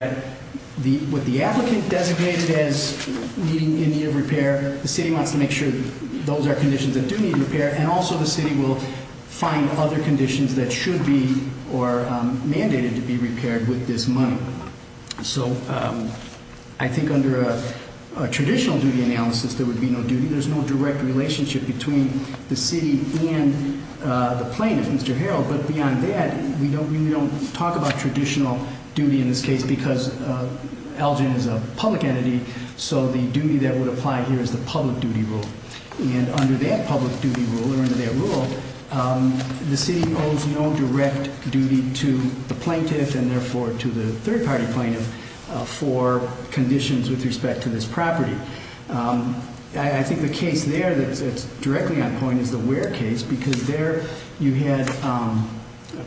What the applicant designated as needing repair, the city wants to make sure those are conditions that do need repair, and also the city will find other conditions that should be or are mandated to be repaired with this money. So I think under a traditional duty analysis, there would be no duty. There's no direct relationship between the city and the plaintiff, Mr. Harreld. But beyond that, we don't really talk about traditional duty in this case because Elgin is a public entity, so the duty that would apply here is the public duty rule. And under that public duty rule, or under that rule, the city owes no direct duty to the plaintiff and therefore to the third-party plaintiff for conditions with respect to this property. I think the case there that's directly on point is the Ware case because there you had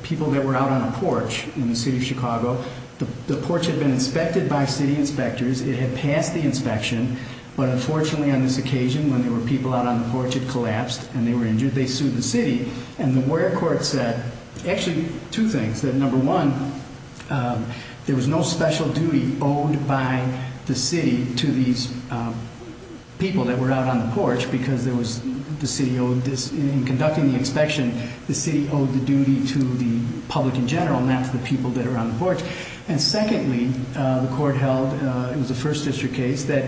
people that were out on a porch in the city of Chicago. The porch had been inspected by city inspectors. It had passed the inspection, but unfortunately on this occasion when there were people out on the porch, it collapsed and they were injured. They sued the city. And the Ware court said actually two things, that number one, there was no special duty owed by the city to these people that were out on the porch because there was the city owed this. In conducting the inspection, the city owed the duty to the public in general, not to the people that are on the porch. And secondly, the court held, it was a first district case, that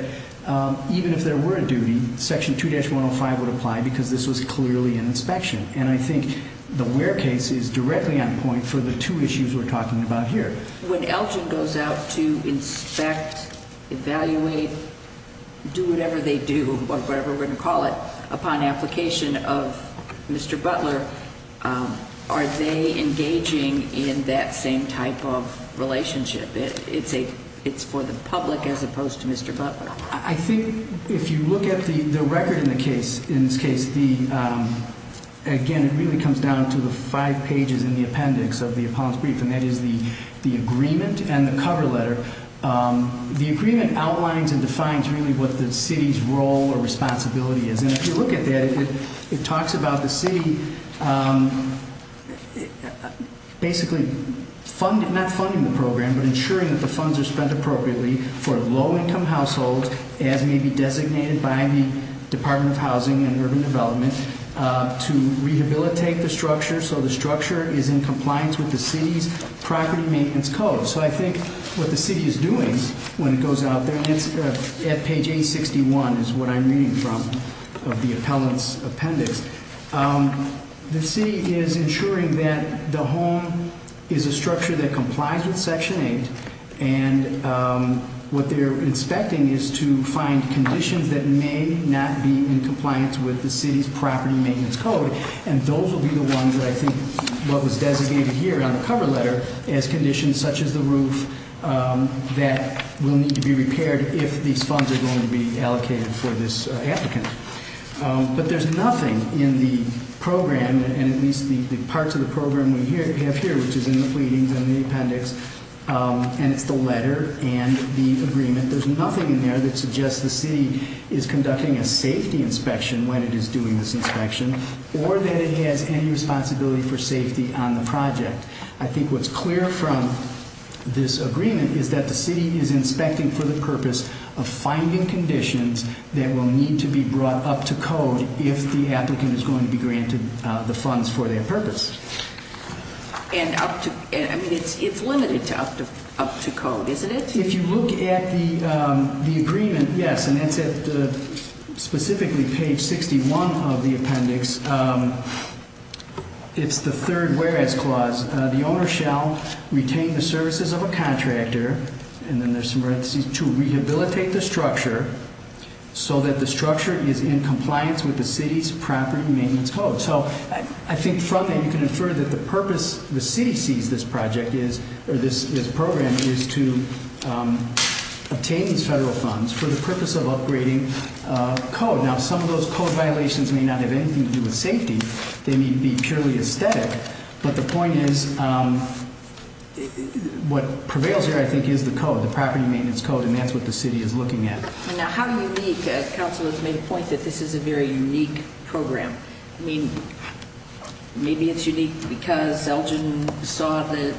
even if there were a duty, section 2-105 would apply because this was clearly an inspection. And I think the Ware case is directly on point for the two issues we're talking about here. When Elgin goes out to inspect, evaluate, do whatever they do, or whatever we're going to call it, upon application of Mr. Butler, are they engaging in that same type of relationship? It's for the public as opposed to Mr. Butler. I think if you look at the record in the case, in this case, again, it really comes down to the five pages in the appendix of the appellant's brief. And that is the agreement and the cover letter. The agreement outlines and defines really what the city's role or responsibility is. And if you look at that, it talks about the city basically not funding the program, but ensuring that the funds are spent appropriately for low-income households, as may be designated by the Department of Housing and Urban Development, to rehabilitate the structure so the structure is in compliance with the city's property maintenance code. So I think what the city is doing when it goes out there, at page 861 is what I'm reading from of the appellant's appendix, the city is ensuring that the home is a structure that complies with Section 8. And what they're inspecting is to find conditions that may not be in compliance with the city's property maintenance code. And those will be the ones that I think what was designated here on the cover letter as conditions such as the roof that will need to be repaired if these funds are going to be allocated for this applicant. But there's nothing in the program, and at least the parts of the program we have here, which is in the pleadings and the appendix, and it's the letter and the agreement. There's nothing in there that suggests the city is conducting a safety inspection when it is doing this inspection, or that it has any responsibility for safety on the project. I think what's clear from this agreement is that the city is inspecting for the purpose of finding conditions that will need to be brought up to code if the applicant is going to be granted the funds for their purpose. And up to, I mean, it's limited to up to code, isn't it? If you look at the agreement, yes, and it's at specifically page 61 of the appendix, it's the third whereas clause. The owner shall retain the services of a contractor, and then there's some parentheses, to rehabilitate the structure so that the structure is in compliance with the city's property maintenance code. So I think from that, you can infer that the purpose the city sees this program is to obtain these federal funds for the purpose of upgrading code. Now, some of those code violations may not have anything to do with safety. They may be purely aesthetic, but the point is what prevails here, I think, is the code, the property maintenance code, and that's what the city is looking at. Now, how unique? Council has made a point that this is a very unique program. I mean, maybe it's unique because Elgin saw the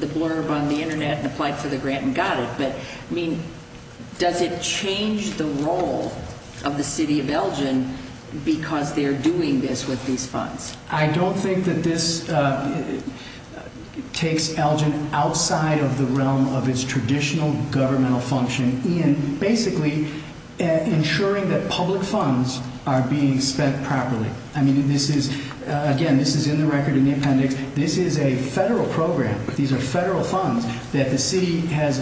blurb on the Internet and applied for the grant and got it, but, I mean, does it change the role of the city of Elgin because they're doing this with these funds? I don't think that this takes Elgin outside of the realm of its traditional governmental function in basically ensuring that public funds are being spent properly. I mean, this is, again, this is in the record in the appendix. This is a federal program. These are federal funds that the city has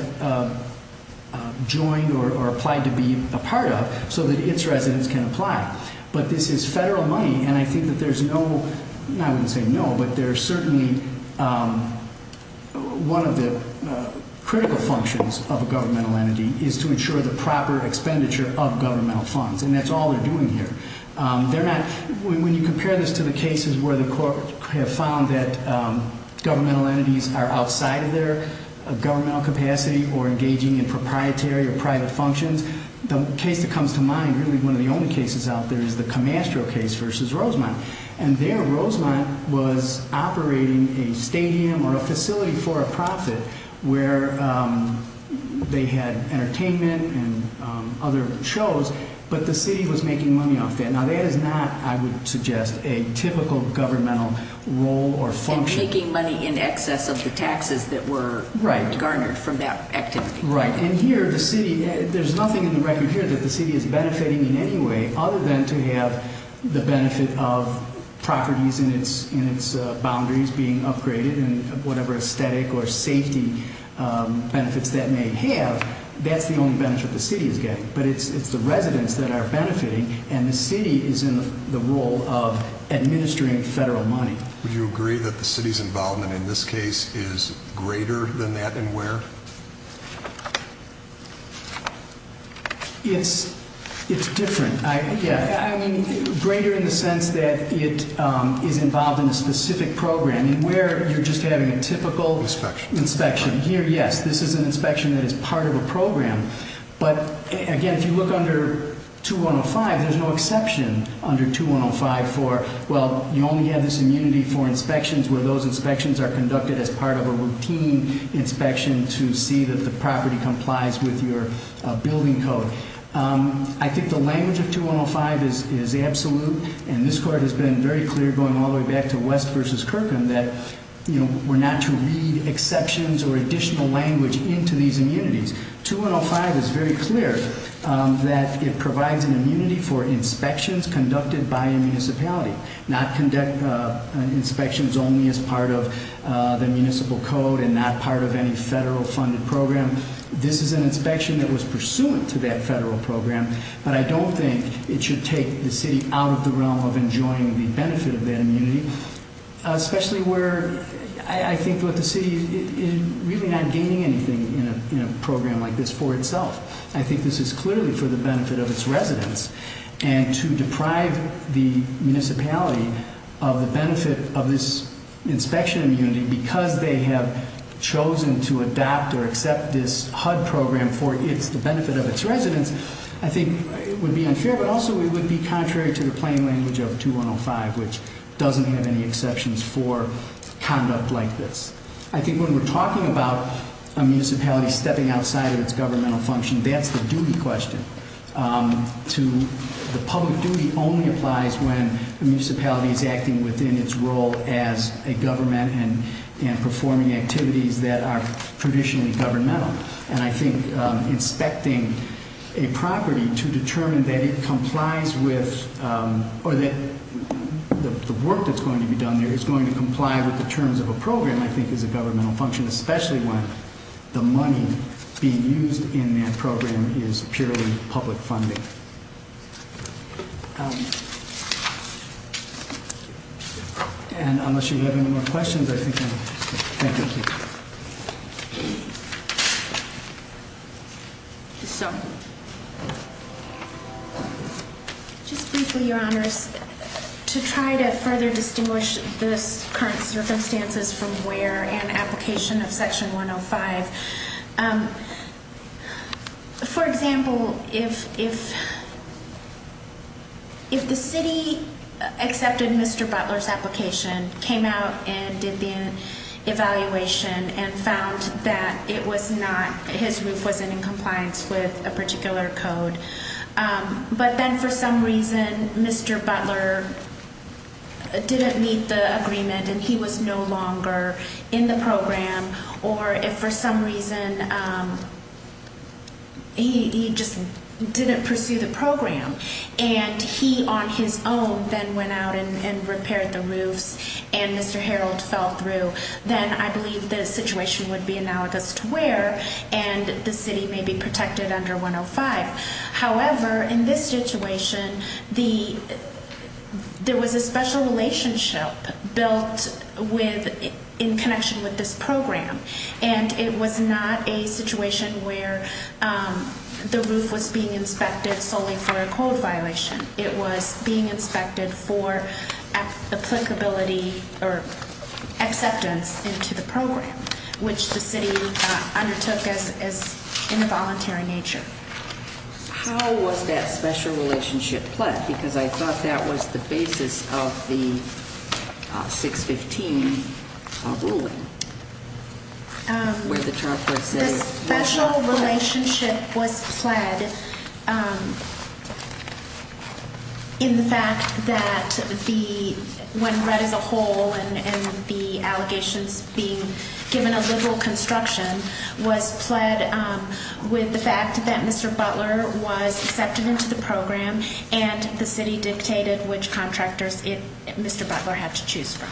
joined or applied to be a part of so that its residents can apply. But this is federal money, and I think that there's no, I wouldn't say no, but there's certainly one of the critical functions of a governmental entity is to ensure the proper expenditure of governmental funds, and that's all they're doing here. They're not, when you compare this to the cases where the court have found that governmental entities are outside of their governmental capacity or engaging in proprietary or private functions, the case that comes to mind, really one of the only cases out there, is the Camastro case versus Rosemont. And there, Rosemont was operating a stadium or a facility for a profit where they had entertainment and other shows, but the city was making money off that. Now, that is not, I would suggest, a typical governmental role or function. And making money in excess of the taxes that were garnered from that activity. Right, and here, the city, there's nothing in the record here that the city is benefiting in any way other than to have the benefit of properties in its boundaries being upgraded and whatever aesthetic or safety benefits that may have. That's the only benefit the city is getting. But it's the residents that are benefiting, and the city is in the role of administering federal money. Would you agree that the city's involvement in this case is greater than that in where? It's different. I mean, greater in the sense that it is involved in a specific program and where you're just having a typical inspection. Here, yes, this is an inspection that is part of a program. But, again, if you look under 2105, there's no exception under 2105 for, well, you only have this immunity for inspections where those inspections are conducted as part of a routine inspection to see that the property complies with your building code. I think the language of 2105 is absolute, and this court has been very clear going all the way back to West v. Kirkham that we're not to read exceptions or additional language into these immunities. 2105 is very clear that it provides an immunity for inspections conducted by a municipality, not inspections only as part of the municipal code and not part of any federal-funded program. This is an inspection that was pursuant to that federal program. But I don't think it should take the city out of the realm of enjoying the benefit of that immunity, especially where I think the city is really not gaining anything in a program like this for itself. I think this is clearly for the benefit of its residents. And to deprive the municipality of the benefit of this inspection immunity because they have chosen to adopt or accept this HUD program for the benefit of its residents, I think would be unfair. But also it would be contrary to the plain language of 2105, which doesn't have any exceptions for conduct like this. I think when we're talking about a municipality stepping outside of its governmental function, that's the duty question. The public duty only applies when a municipality is acting within its role as a government and performing activities that are traditionally governmental. And I think inspecting a property to determine that it complies with or that the work that's going to be done there is going to comply with the terms of a program I think is a governmental function, especially when the money being used in that program is purely public funding. And unless you have any more questions, I think I'm going to stop. Thank you. Just briefly, your honors, to try to further distinguish this current circumstances from where an application of section 105. For example, if the city accepted Mr. Butler's application, came out and did the evaluation and found that it was not, his roof wasn't in compliance with a particular code, but then for some reason Mr. Butler didn't meet the agreement and he was no longer in the program, or if for some reason he just didn't pursue the program and he on his own then went out and repaired the roofs and Mr. Harold fell through, then I believe the situation would be analogous to where and the city may be protected under 105. However, in this situation, there was a special relationship built in connection with this program and it was not a situation where the roof was being inspected solely for a code violation. It was being inspected for applicability or acceptance into the program, which the city undertook as involuntary in nature. How was that special relationship pled? Because I thought that was the basis of the 615 ruling. The special relationship was pled in the fact that the, when read as a whole and the allegations being given a liberal construction, was pled with the fact that Mr. Butler was accepted into the program and the city dictated which contractors Mr. Butler had to choose from.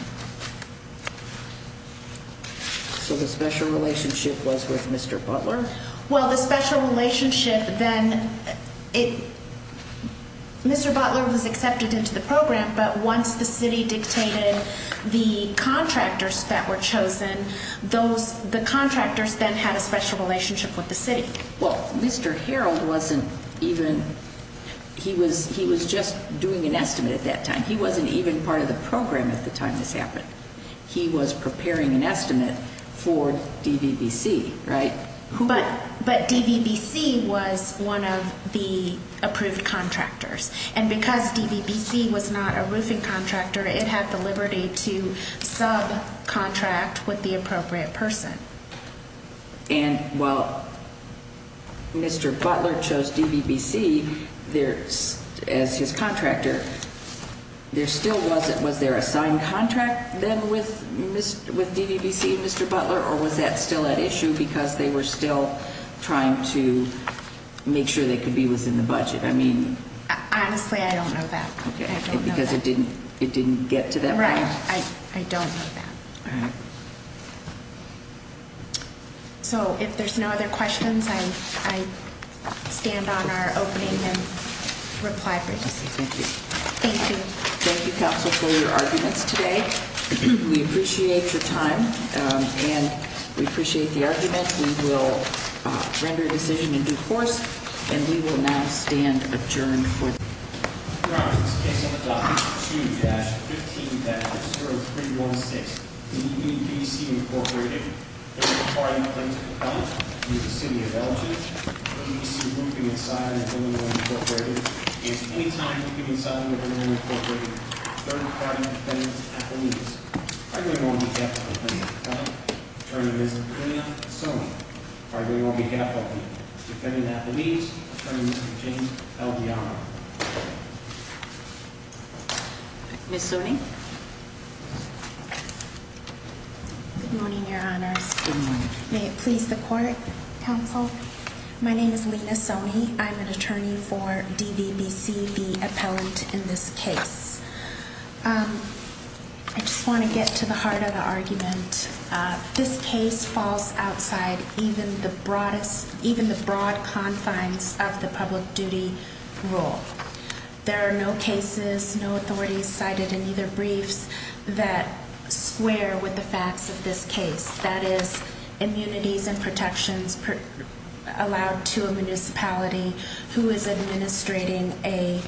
So the special relationship was with Mr. Butler? Well, the special relationship then, Mr. Butler was accepted into the program, but once the city dictated the contractors that were chosen, the contractors then had a special relationship with the city. Well, Mr. Harold wasn't even, he was just doing an estimate at that time. He wasn't even part of the program at the time this happened. He was preparing an estimate for DVBC, right? But DVBC was one of the approved contractors and because DVBC was not a roofing contractor, it had the liberty to subcontract with the appropriate person. And while Mr. Butler chose DVBC as his contractor, there still wasn't, was there a signed contract then with DVBC and Mr. Butler or was that still at issue because they were still trying to make sure they could be within the budget? I mean. Honestly, I don't know that. Because it didn't get to that point? Right. I don't know that. All right. So if there's no other questions, I stand on our opening and reply for this. Thank you. Thank you. Thank you, counsel, for your arguments today. We appreciate your time and we appreciate the argument. We will render a decision in due course and we will now stand adjourned. Your Honor, this case on the docket 2-15-0316, DVBC Incorporated, third-party plaintiff's complaint against the city of Belgium, DVBC roofing and signing of Illinois Incorporated, against any time roofing and signing of Illinois Incorporated, third-party defendant's affidavits. Defendant on behalf of the plaintiff's client, attorney Ms. Lina Soni. Defendant on behalf of the defendant at the meeting, attorney Mr. James, held the honor. Ms. Soni. Good morning, Your Honor. Good morning. May it please the court, counsel. My name is Lina Soni. I'm an attorney for DVBC, the appellant in this case. I just want to get to the heart of the argument. This case falls outside even the broad confines of the public duty rule. There are no cases, no authorities cited in either briefs that square with the facts of this case. That is, immunities and protections allowed to a municipality who is administrating a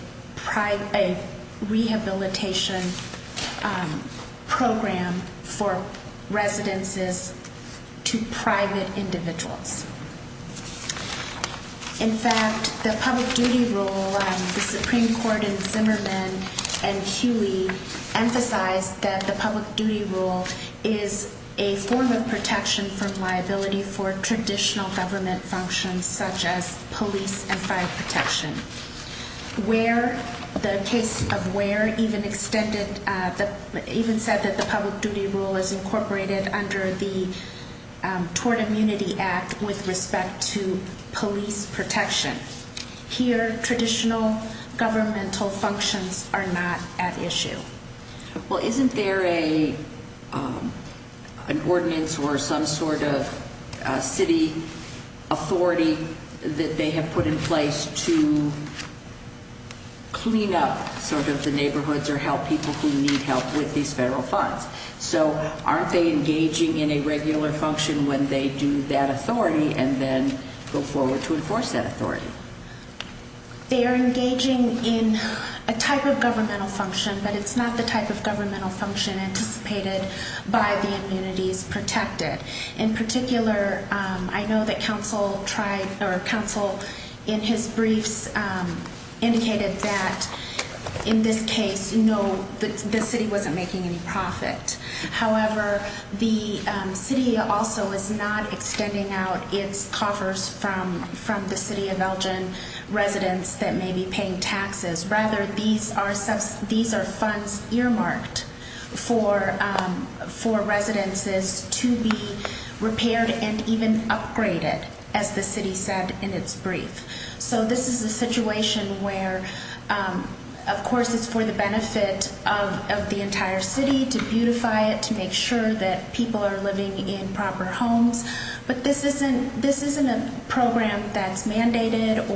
rehabilitation program for residences to private individuals. In fact, the public duty rule, the Supreme Court in Zimmerman and Huey emphasized that the public duty rule is a form of protection from liability for traditional government functions such as police and fire protection. The case of Ware even said that the public duty rule is incorporated under the Tort Immunity Act with respect to police protection. Here, traditional governmental functions are not at issue. Well, isn't there an ordinance or some sort of city authority that they have put in place to clean up sort of the neighborhoods or help people who need help with these federal funds? So, aren't they engaging in a regular function when they do that authority and then go forward to enforce that authority? They are engaging in a type of governmental function, but it's not the type of governmental function anticipated by the immunities protected. In particular, I know that counsel tried or counsel in his briefs indicated that in this case, you know, the city wasn't making any profit. However, the city also is not extending out its coffers from the city of Belgium residents that may be paying taxes. Rather, these are funds earmarked for residences to be repaired and even upgraded, as the city said in its brief. So, this is a situation where, of course, it's for the benefit of the entire city to beautify it, to make sure that people are living in proper homes. But this isn't a program that's mandated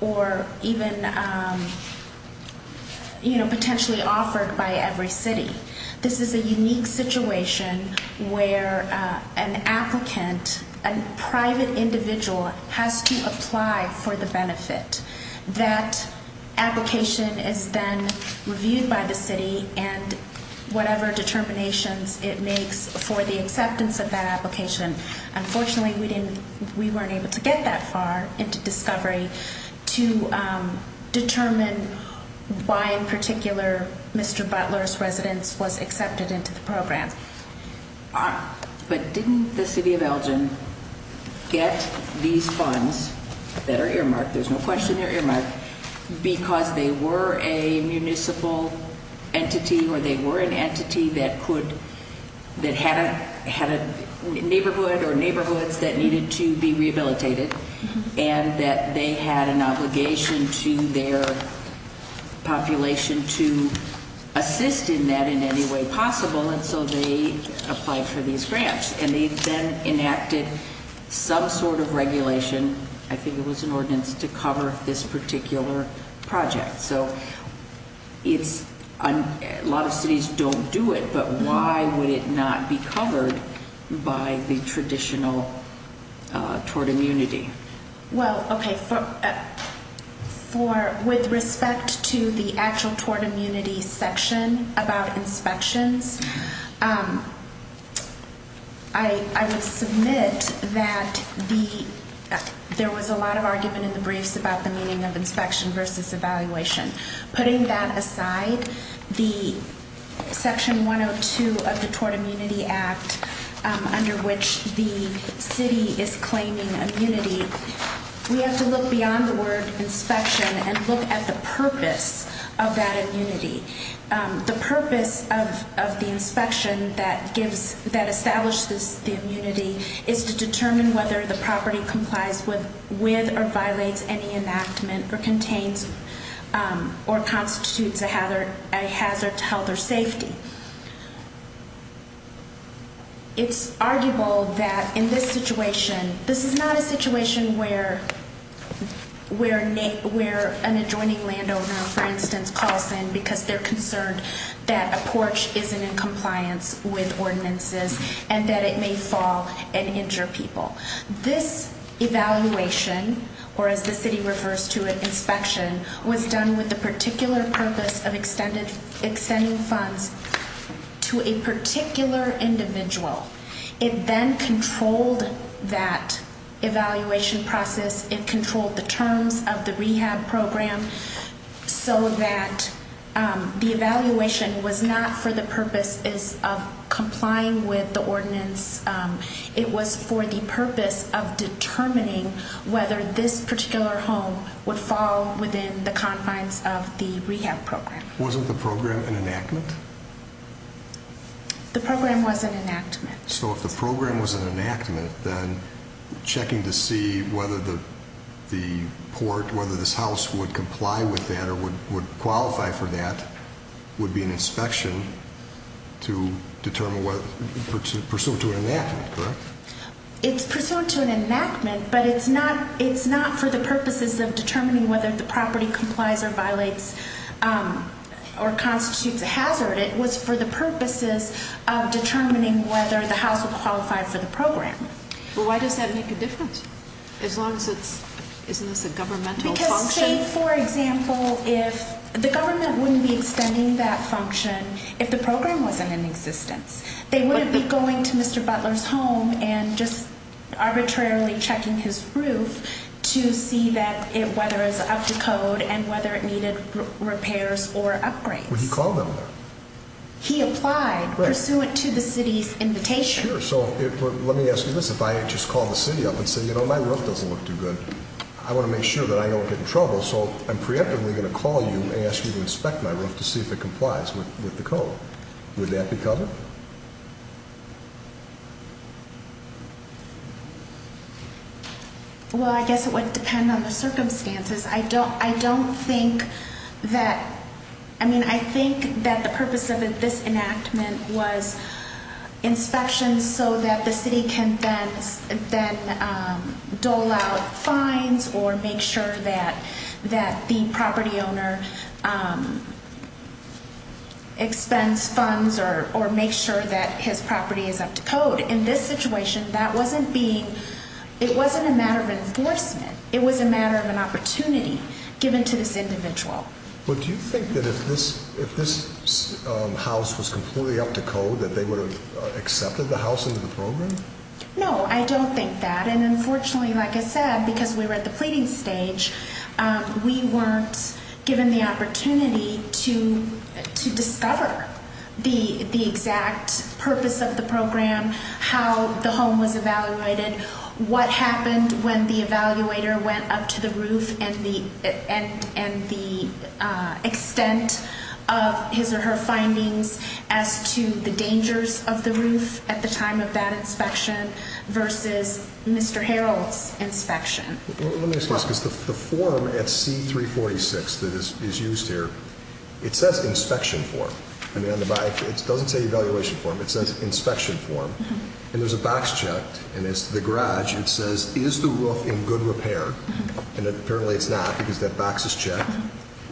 or even, you know, potentially offered by every city. This is a unique situation where an applicant, a private individual, has to apply for the benefit. That application is then reviewed by the city and whatever determinations it makes for the acceptance of that application. Unfortunately, we weren't able to get that far into discovery to determine why in particular Mr. Butler's residence was accepted into the program. But didn't the city of Belgium get these funds that are earmarked, there's no question they're earmarked, because they were a municipal entity or they were an entity that could, that had a neighborhood or neighborhoods that needed to be rehabilitated and that they had an obligation to their population to assist in that in any way possible and so they applied for these grants. And they then enacted some sort of regulation, I think it was an ordinance, to cover this particular project. So it's, a lot of cities don't do it, but why would it not be covered by the traditional tort immunity? Well, okay, for, with respect to the actual tort immunity section about inspections, I would submit that the, there was a lot of argument in the briefs about the meaning of inspection versus evaluation. Putting that aside, the section 102 of the Tort Immunity Act, under which the city is claiming immunity, we have to look beyond the word inspection and look at the purpose of that immunity. The purpose of the inspection that establishes the immunity is to determine whether the property complies with or violates any enactment or contains or constitutes a hazard to health or safety. It's arguable that in this situation, this is not a situation where an adjoining landowner, for instance, calls in because they're concerned that a porch isn't in compliance with ordinances and that it may fall and injure people. This evaluation, or as the city refers to it, inspection, was done with the particular purpose of extending funds to a particular individual. It then controlled that evaluation process. It controlled the terms of the rehab program so that the evaluation was not for the purposes of complying with the ordinance. It was for the purpose of determining whether this particular home would fall within the confines of the rehab program. Wasn't the program an enactment? The program was an enactment. So if the program was an enactment, then checking to see whether the port, whether this house would comply with that or would qualify for that, would be an inspection to determine whether it's pursuant to an enactment, correct? It's pursuant to an enactment, but it's not for the purposes of determining whether the property complies or violates or constitutes a hazard. It was for the purposes of determining whether the house would qualify for the program. But why does that make a difference? As long as it's, isn't this a governmental function? Because say, for example, if, the government wouldn't be extending that function if the program wasn't in existence. They wouldn't be going to Mr. Butler's home and just arbitrarily checking his roof to see that it, whether it's up to code and whether it needed repairs or upgrades. Would he call them there? He applied pursuant to the city's invitation. Sure, so let me ask you this, if I just call the city up and say, you know, my roof doesn't look too good, I want to make sure that I don't get in trouble, so I'm preemptively going to call you and ask you to inspect my roof to see if it complies with the code. Would that be covered? Well, I guess it would depend on the circumstances. I don't think that, I mean, I think that the purpose of this enactment was inspections so that the city can then dole out fines or make sure that the property owner expends funds or make sure that his property is up to code. In this situation, that wasn't being, it wasn't a matter of enforcement. It was a matter of an opportunity given to this individual. But do you think that if this house was completely up to code that they would have accepted the house into the program? No, I don't think that, and unfortunately, like I said, because we were at the pleading stage, we weren't given the opportunity to discover the exact purpose of the program, how the home was evaluated, what happened when the evaluator went up to the roof and the extent of his or her findings as to the dangers of the roof at the time of that inspection versus Mr. Harold's inspection. Let me ask you this, because the form at C-346 that is used here, it says inspection form. I mean, on the back, it doesn't say evaluation form, it says inspection form. And there's a box checked, and it's the garage, and it says, is the roof in good repair? And apparently it's not because that box is checked.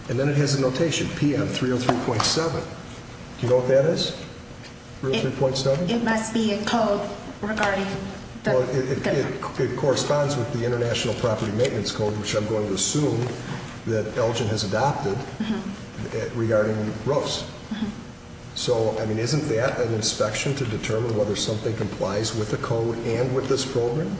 And then it has a notation, PM 303.7. Do you know what that is? 303.7? It must be a code regarding the... It corresponds with the International Property Maintenance Code, which I'm going to assume that Elgin has adopted, regarding roofs. So, I mean, isn't that an inspection to determine whether something complies with the code and with this program?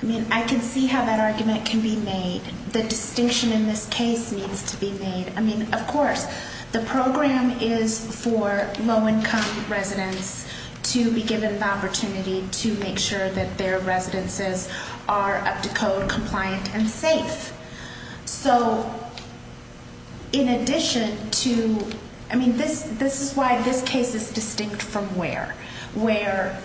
I mean, I can see how that argument can be made. The distinction in this case needs to be made. I mean, of course, the program is for low-income residents to be given the opportunity to make sure that their residences are up to code, compliant, and safe. So, in addition to... I mean, this is why this case is distinct from where. Where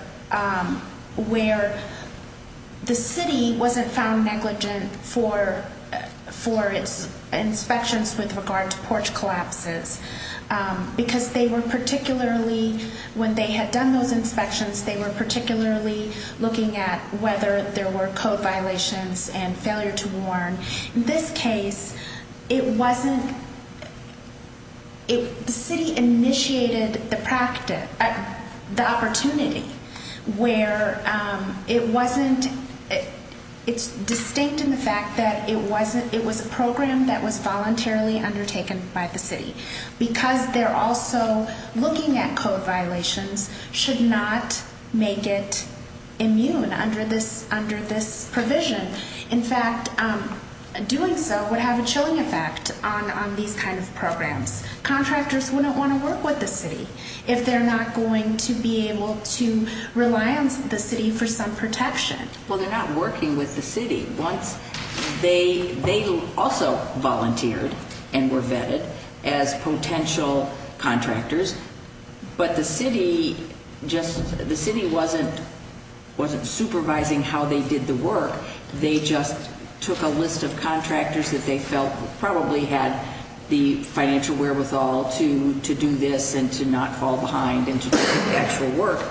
the city wasn't found negligent for its inspections with regard to porch collapses. Because they were particularly, when they had done those inspections, they were particularly looking at whether there were code violations and failure to warn. In this case, it wasn't... The city initiated the opportunity where it wasn't... It's distinct in the fact that it was a program that was voluntarily undertaken by the city. Because they're also looking at code violations, should not make it immune under this provision. In fact, doing so would have a chilling effect on these kind of programs. Contractors wouldn't want to work with the city if they're not going to be able to rely on the city for some protection. Well, they're not working with the city. They also volunteered and were vetted as potential contractors. But the city just... The city wasn't supervising how they did the work. They just took a list of contractors that they felt probably had the financial wherewithal to do this and to not fall behind and to do the actual work.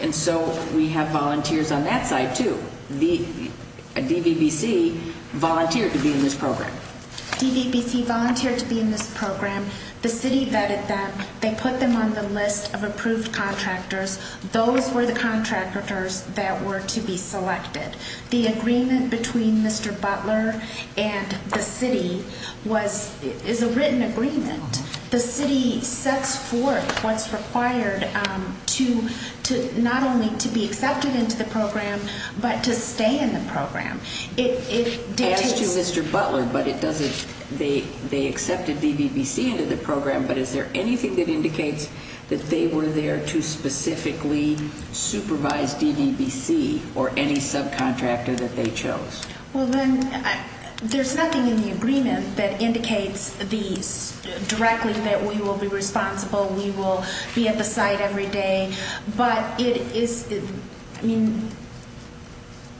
And so we have volunteers on that side, too. DVBC volunteered to be in this program. DVBC volunteered to be in this program. The city vetted them. They put them on the list of approved contractors. Those were the contractors that were to be selected. The agreement between Mr. Butler and the city is a written agreement. The city sets forth what's required not only to be accepted into the program, but to stay in the program. As to Mr. Butler, they accepted DVBC into the program, but is there anything that indicates that they were there to specifically supervise DVBC or any subcontractor that they chose? Well, then, there's nothing in the agreement that indicates these directly, that we will be responsible, we will be at the site every day. But it is, I mean,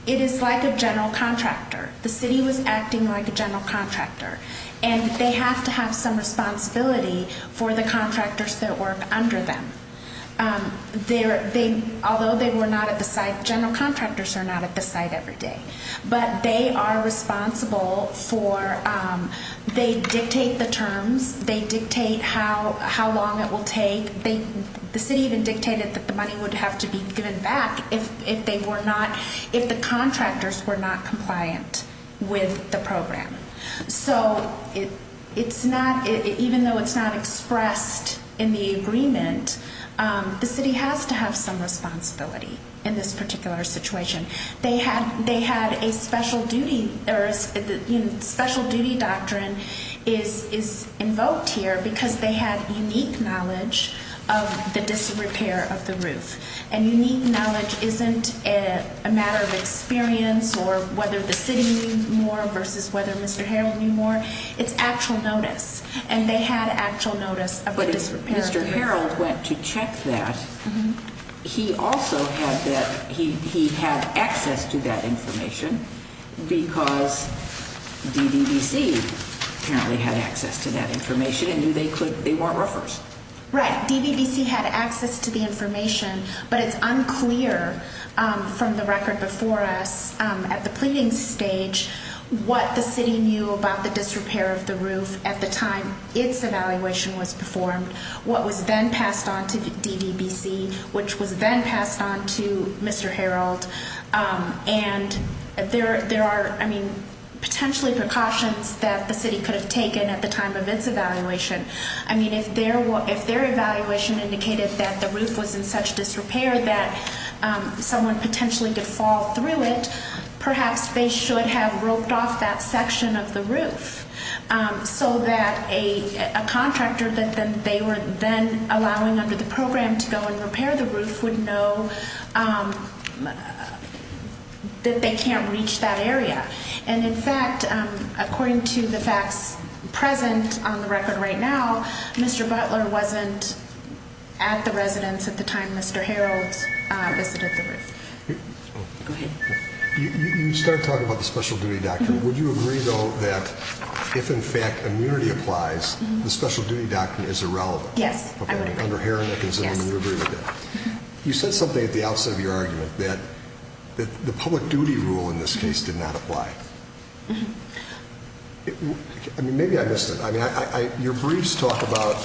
it is like a general contractor. The city was acting like a general contractor. And they have to have some responsibility for the contractors that work under them. Although they were not at the site, general contractors are not at the site every day. But they are responsible for, they dictate the terms, they dictate how long it will take. The city even dictated that the money would have to be given back if they were not, if the contractors were not compliant with the program. So, it's not, even though it's not expressed in the agreement, the city has to have some responsibility in this particular situation. They had a special duty, special duty doctrine is invoked here because they had unique knowledge of the disrepair of the roof. And unique knowledge isn't a matter of experience or whether the city knew more versus whether Mr. Harreld knew more, it's actual notice. And they had actual notice of the disrepair of the roof. But if Mr. Harreld went to check that, he also had that, he had access to that information because DVBC apparently had access to that information and knew they weren't roofers. Right, DVBC had access to the information, but it's unclear from the record before us at the pleading stage what the city knew about the disrepair of the roof at the time its evaluation was performed. What was then passed on to DVBC, which was then passed on to Mr. Harreld. And there are, I mean, potentially precautions that the city could have taken at the time of its evaluation. I mean, if their evaluation indicated that the roof was in such disrepair that someone potentially could fall through it, perhaps they should have roped off that section of the roof. So that a contractor that they were then allowing under the program to go and repair the roof would know that they can't reach that area. And in fact, according to the facts present on the record right now, Mr. Butler wasn't at the residence at the time Mr. Harreld visited the roof. Go ahead. You start talking about the special duty doctrine. Would you agree, though, that if in fact immunity applies, the special duty doctrine is irrelevant? Yes, I would agree. You said something at the outset of your argument that the public duty rule in this case did not apply. I mean, maybe I missed it. I mean, your briefs talk about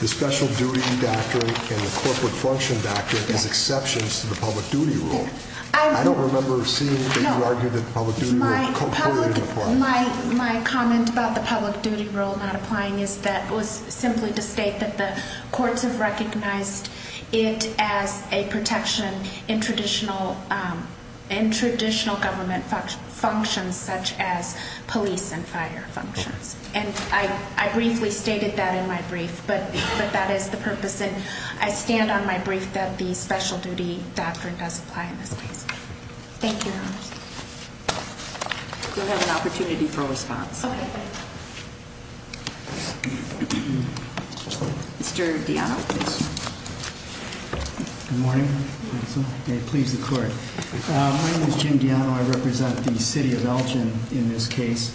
the special duty doctrine and the corporate function doctrine as exceptions to the public duty rule. I don't remember seeing that you argued that the public duty rule was not applying. Well, my comment about the public duty rule not applying is that it was simply to state that the courts have recognized it as a protection in traditional government functions such as police and fire functions. And I briefly stated that in my brief, but that is the purpose. And I stand on my brief that the special duty doctrine does apply in this case. Thank you. We'll have an opportunity for response. Okay. Mr. Diano, please. Good morning. May it please the court. My name is Jim Diano. I represent the city of Elgin in this case.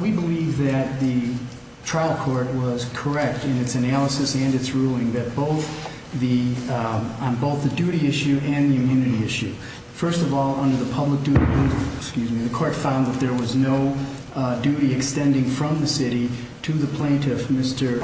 We believe that the trial court was correct in its analysis and its ruling on both the duty issue and the immunity issue. First of all, under the public duty rule, the court found that there was no duty extending from the city to the plaintiff, Mr.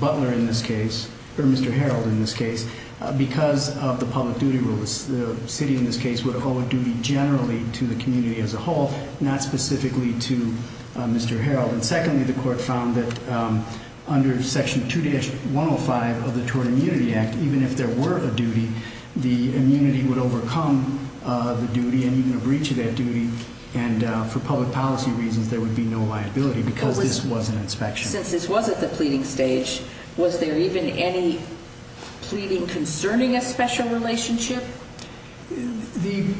Butler in this case, or Mr. Harold in this case, because of the public duty rule. The city in this case would owe a duty generally to the community as a whole, not specifically to Mr. Harold. And secondly, the court found that under Section 2-105 of the Tort Immunity Act, even if there were a duty, the immunity would overcome the duty and even a breach of that duty. And for public policy reasons, there would be no liability because this was an inspection. Since this was at the pleading stage, was there even any pleading concerning a special relationship? The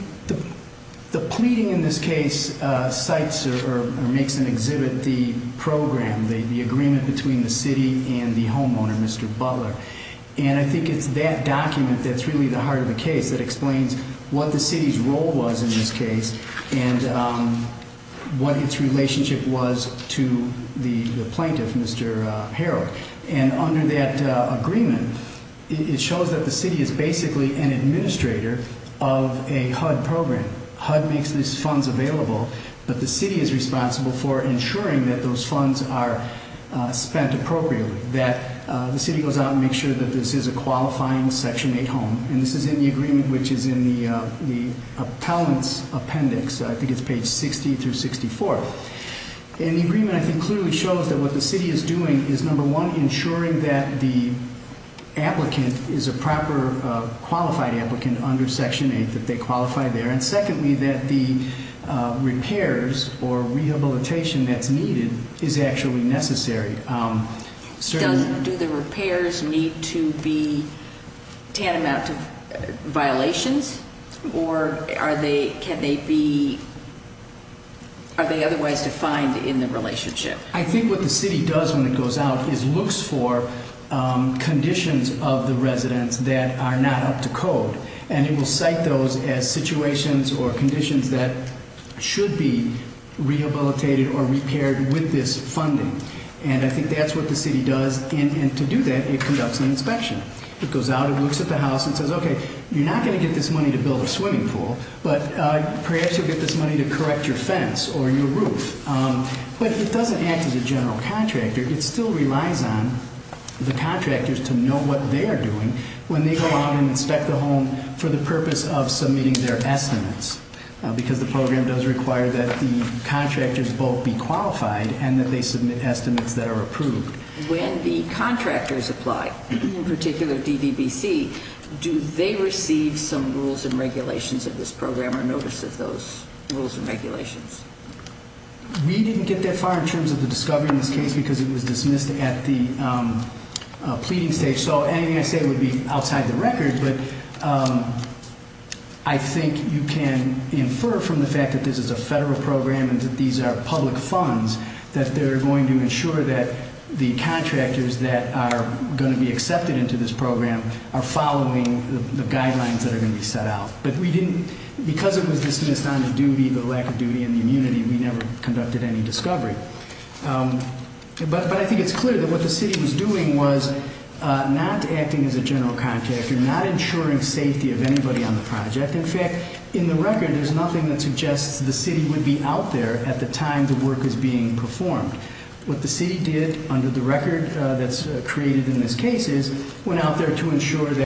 pleading in this case cites or makes an exhibit the program, the agreement between the city and the homeowner, Mr. Butler. And I think it's that document that's really the heart of the case that explains what the city's role was in this case and what its relationship was to the plaintiff, Mr. Harold. And under that agreement, it shows that the city is basically an administrator of a HUD program. HUD makes these funds available, but the city is responsible for ensuring that those funds are spent appropriately, that the city goes out and makes sure that this is a qualifying Section 8 home. And this is in the agreement which is in the appellant's appendix, I think it's page 60-64. And the agreement, I think, clearly shows that what the city is doing is, number one, ensuring that the applicant is a proper qualified applicant under Section 8, that they qualify there. And secondly, that the repairs or rehabilitation that's needed is actually necessary. Do the repairs need to be tantamount to violations or are they otherwise defined in the relationship? I think what the city does when it goes out is looks for conditions of the residents that are not up to code. And it will cite those as situations or conditions that should be rehabilitated or repaired with this funding. And I think that's what the city does. And to do that, it conducts an inspection. It goes out and looks at the house and says, okay, you're not going to get this money to build a swimming pool, but perhaps you'll get this money to correct your fence or your roof. But it doesn't act as a general contractor. It still relies on the contractors to know what they are doing when they go out and inspect the home for the purpose of submitting their estimates. Because the program does require that the contractors both be qualified and that they submit estimates that are approved. When the contractors apply, in particular DDBC, do they receive some rules and regulations of this program or notice of those rules and regulations? We didn't get that far in terms of the discovery in this case because it was dismissed at the pleading stage. So anything I say would be outside the record. But I think you can infer from the fact that this is a federal program and that these are public funds, that they're going to ensure that the contractors that are going to be accepted into this program are following the guidelines that are going to be set out. But because it was dismissed on the duty, the lack of duty, and the immunity, we never conducted any discovery. But I think it's clear that what the city was doing was not acting as a general contractor, not ensuring safety of anybody on the project. In fact, in the record, there's nothing that suggests the city would be out there at the time the work is being performed. What the city did under the record that's created in this case is went out there to ensure that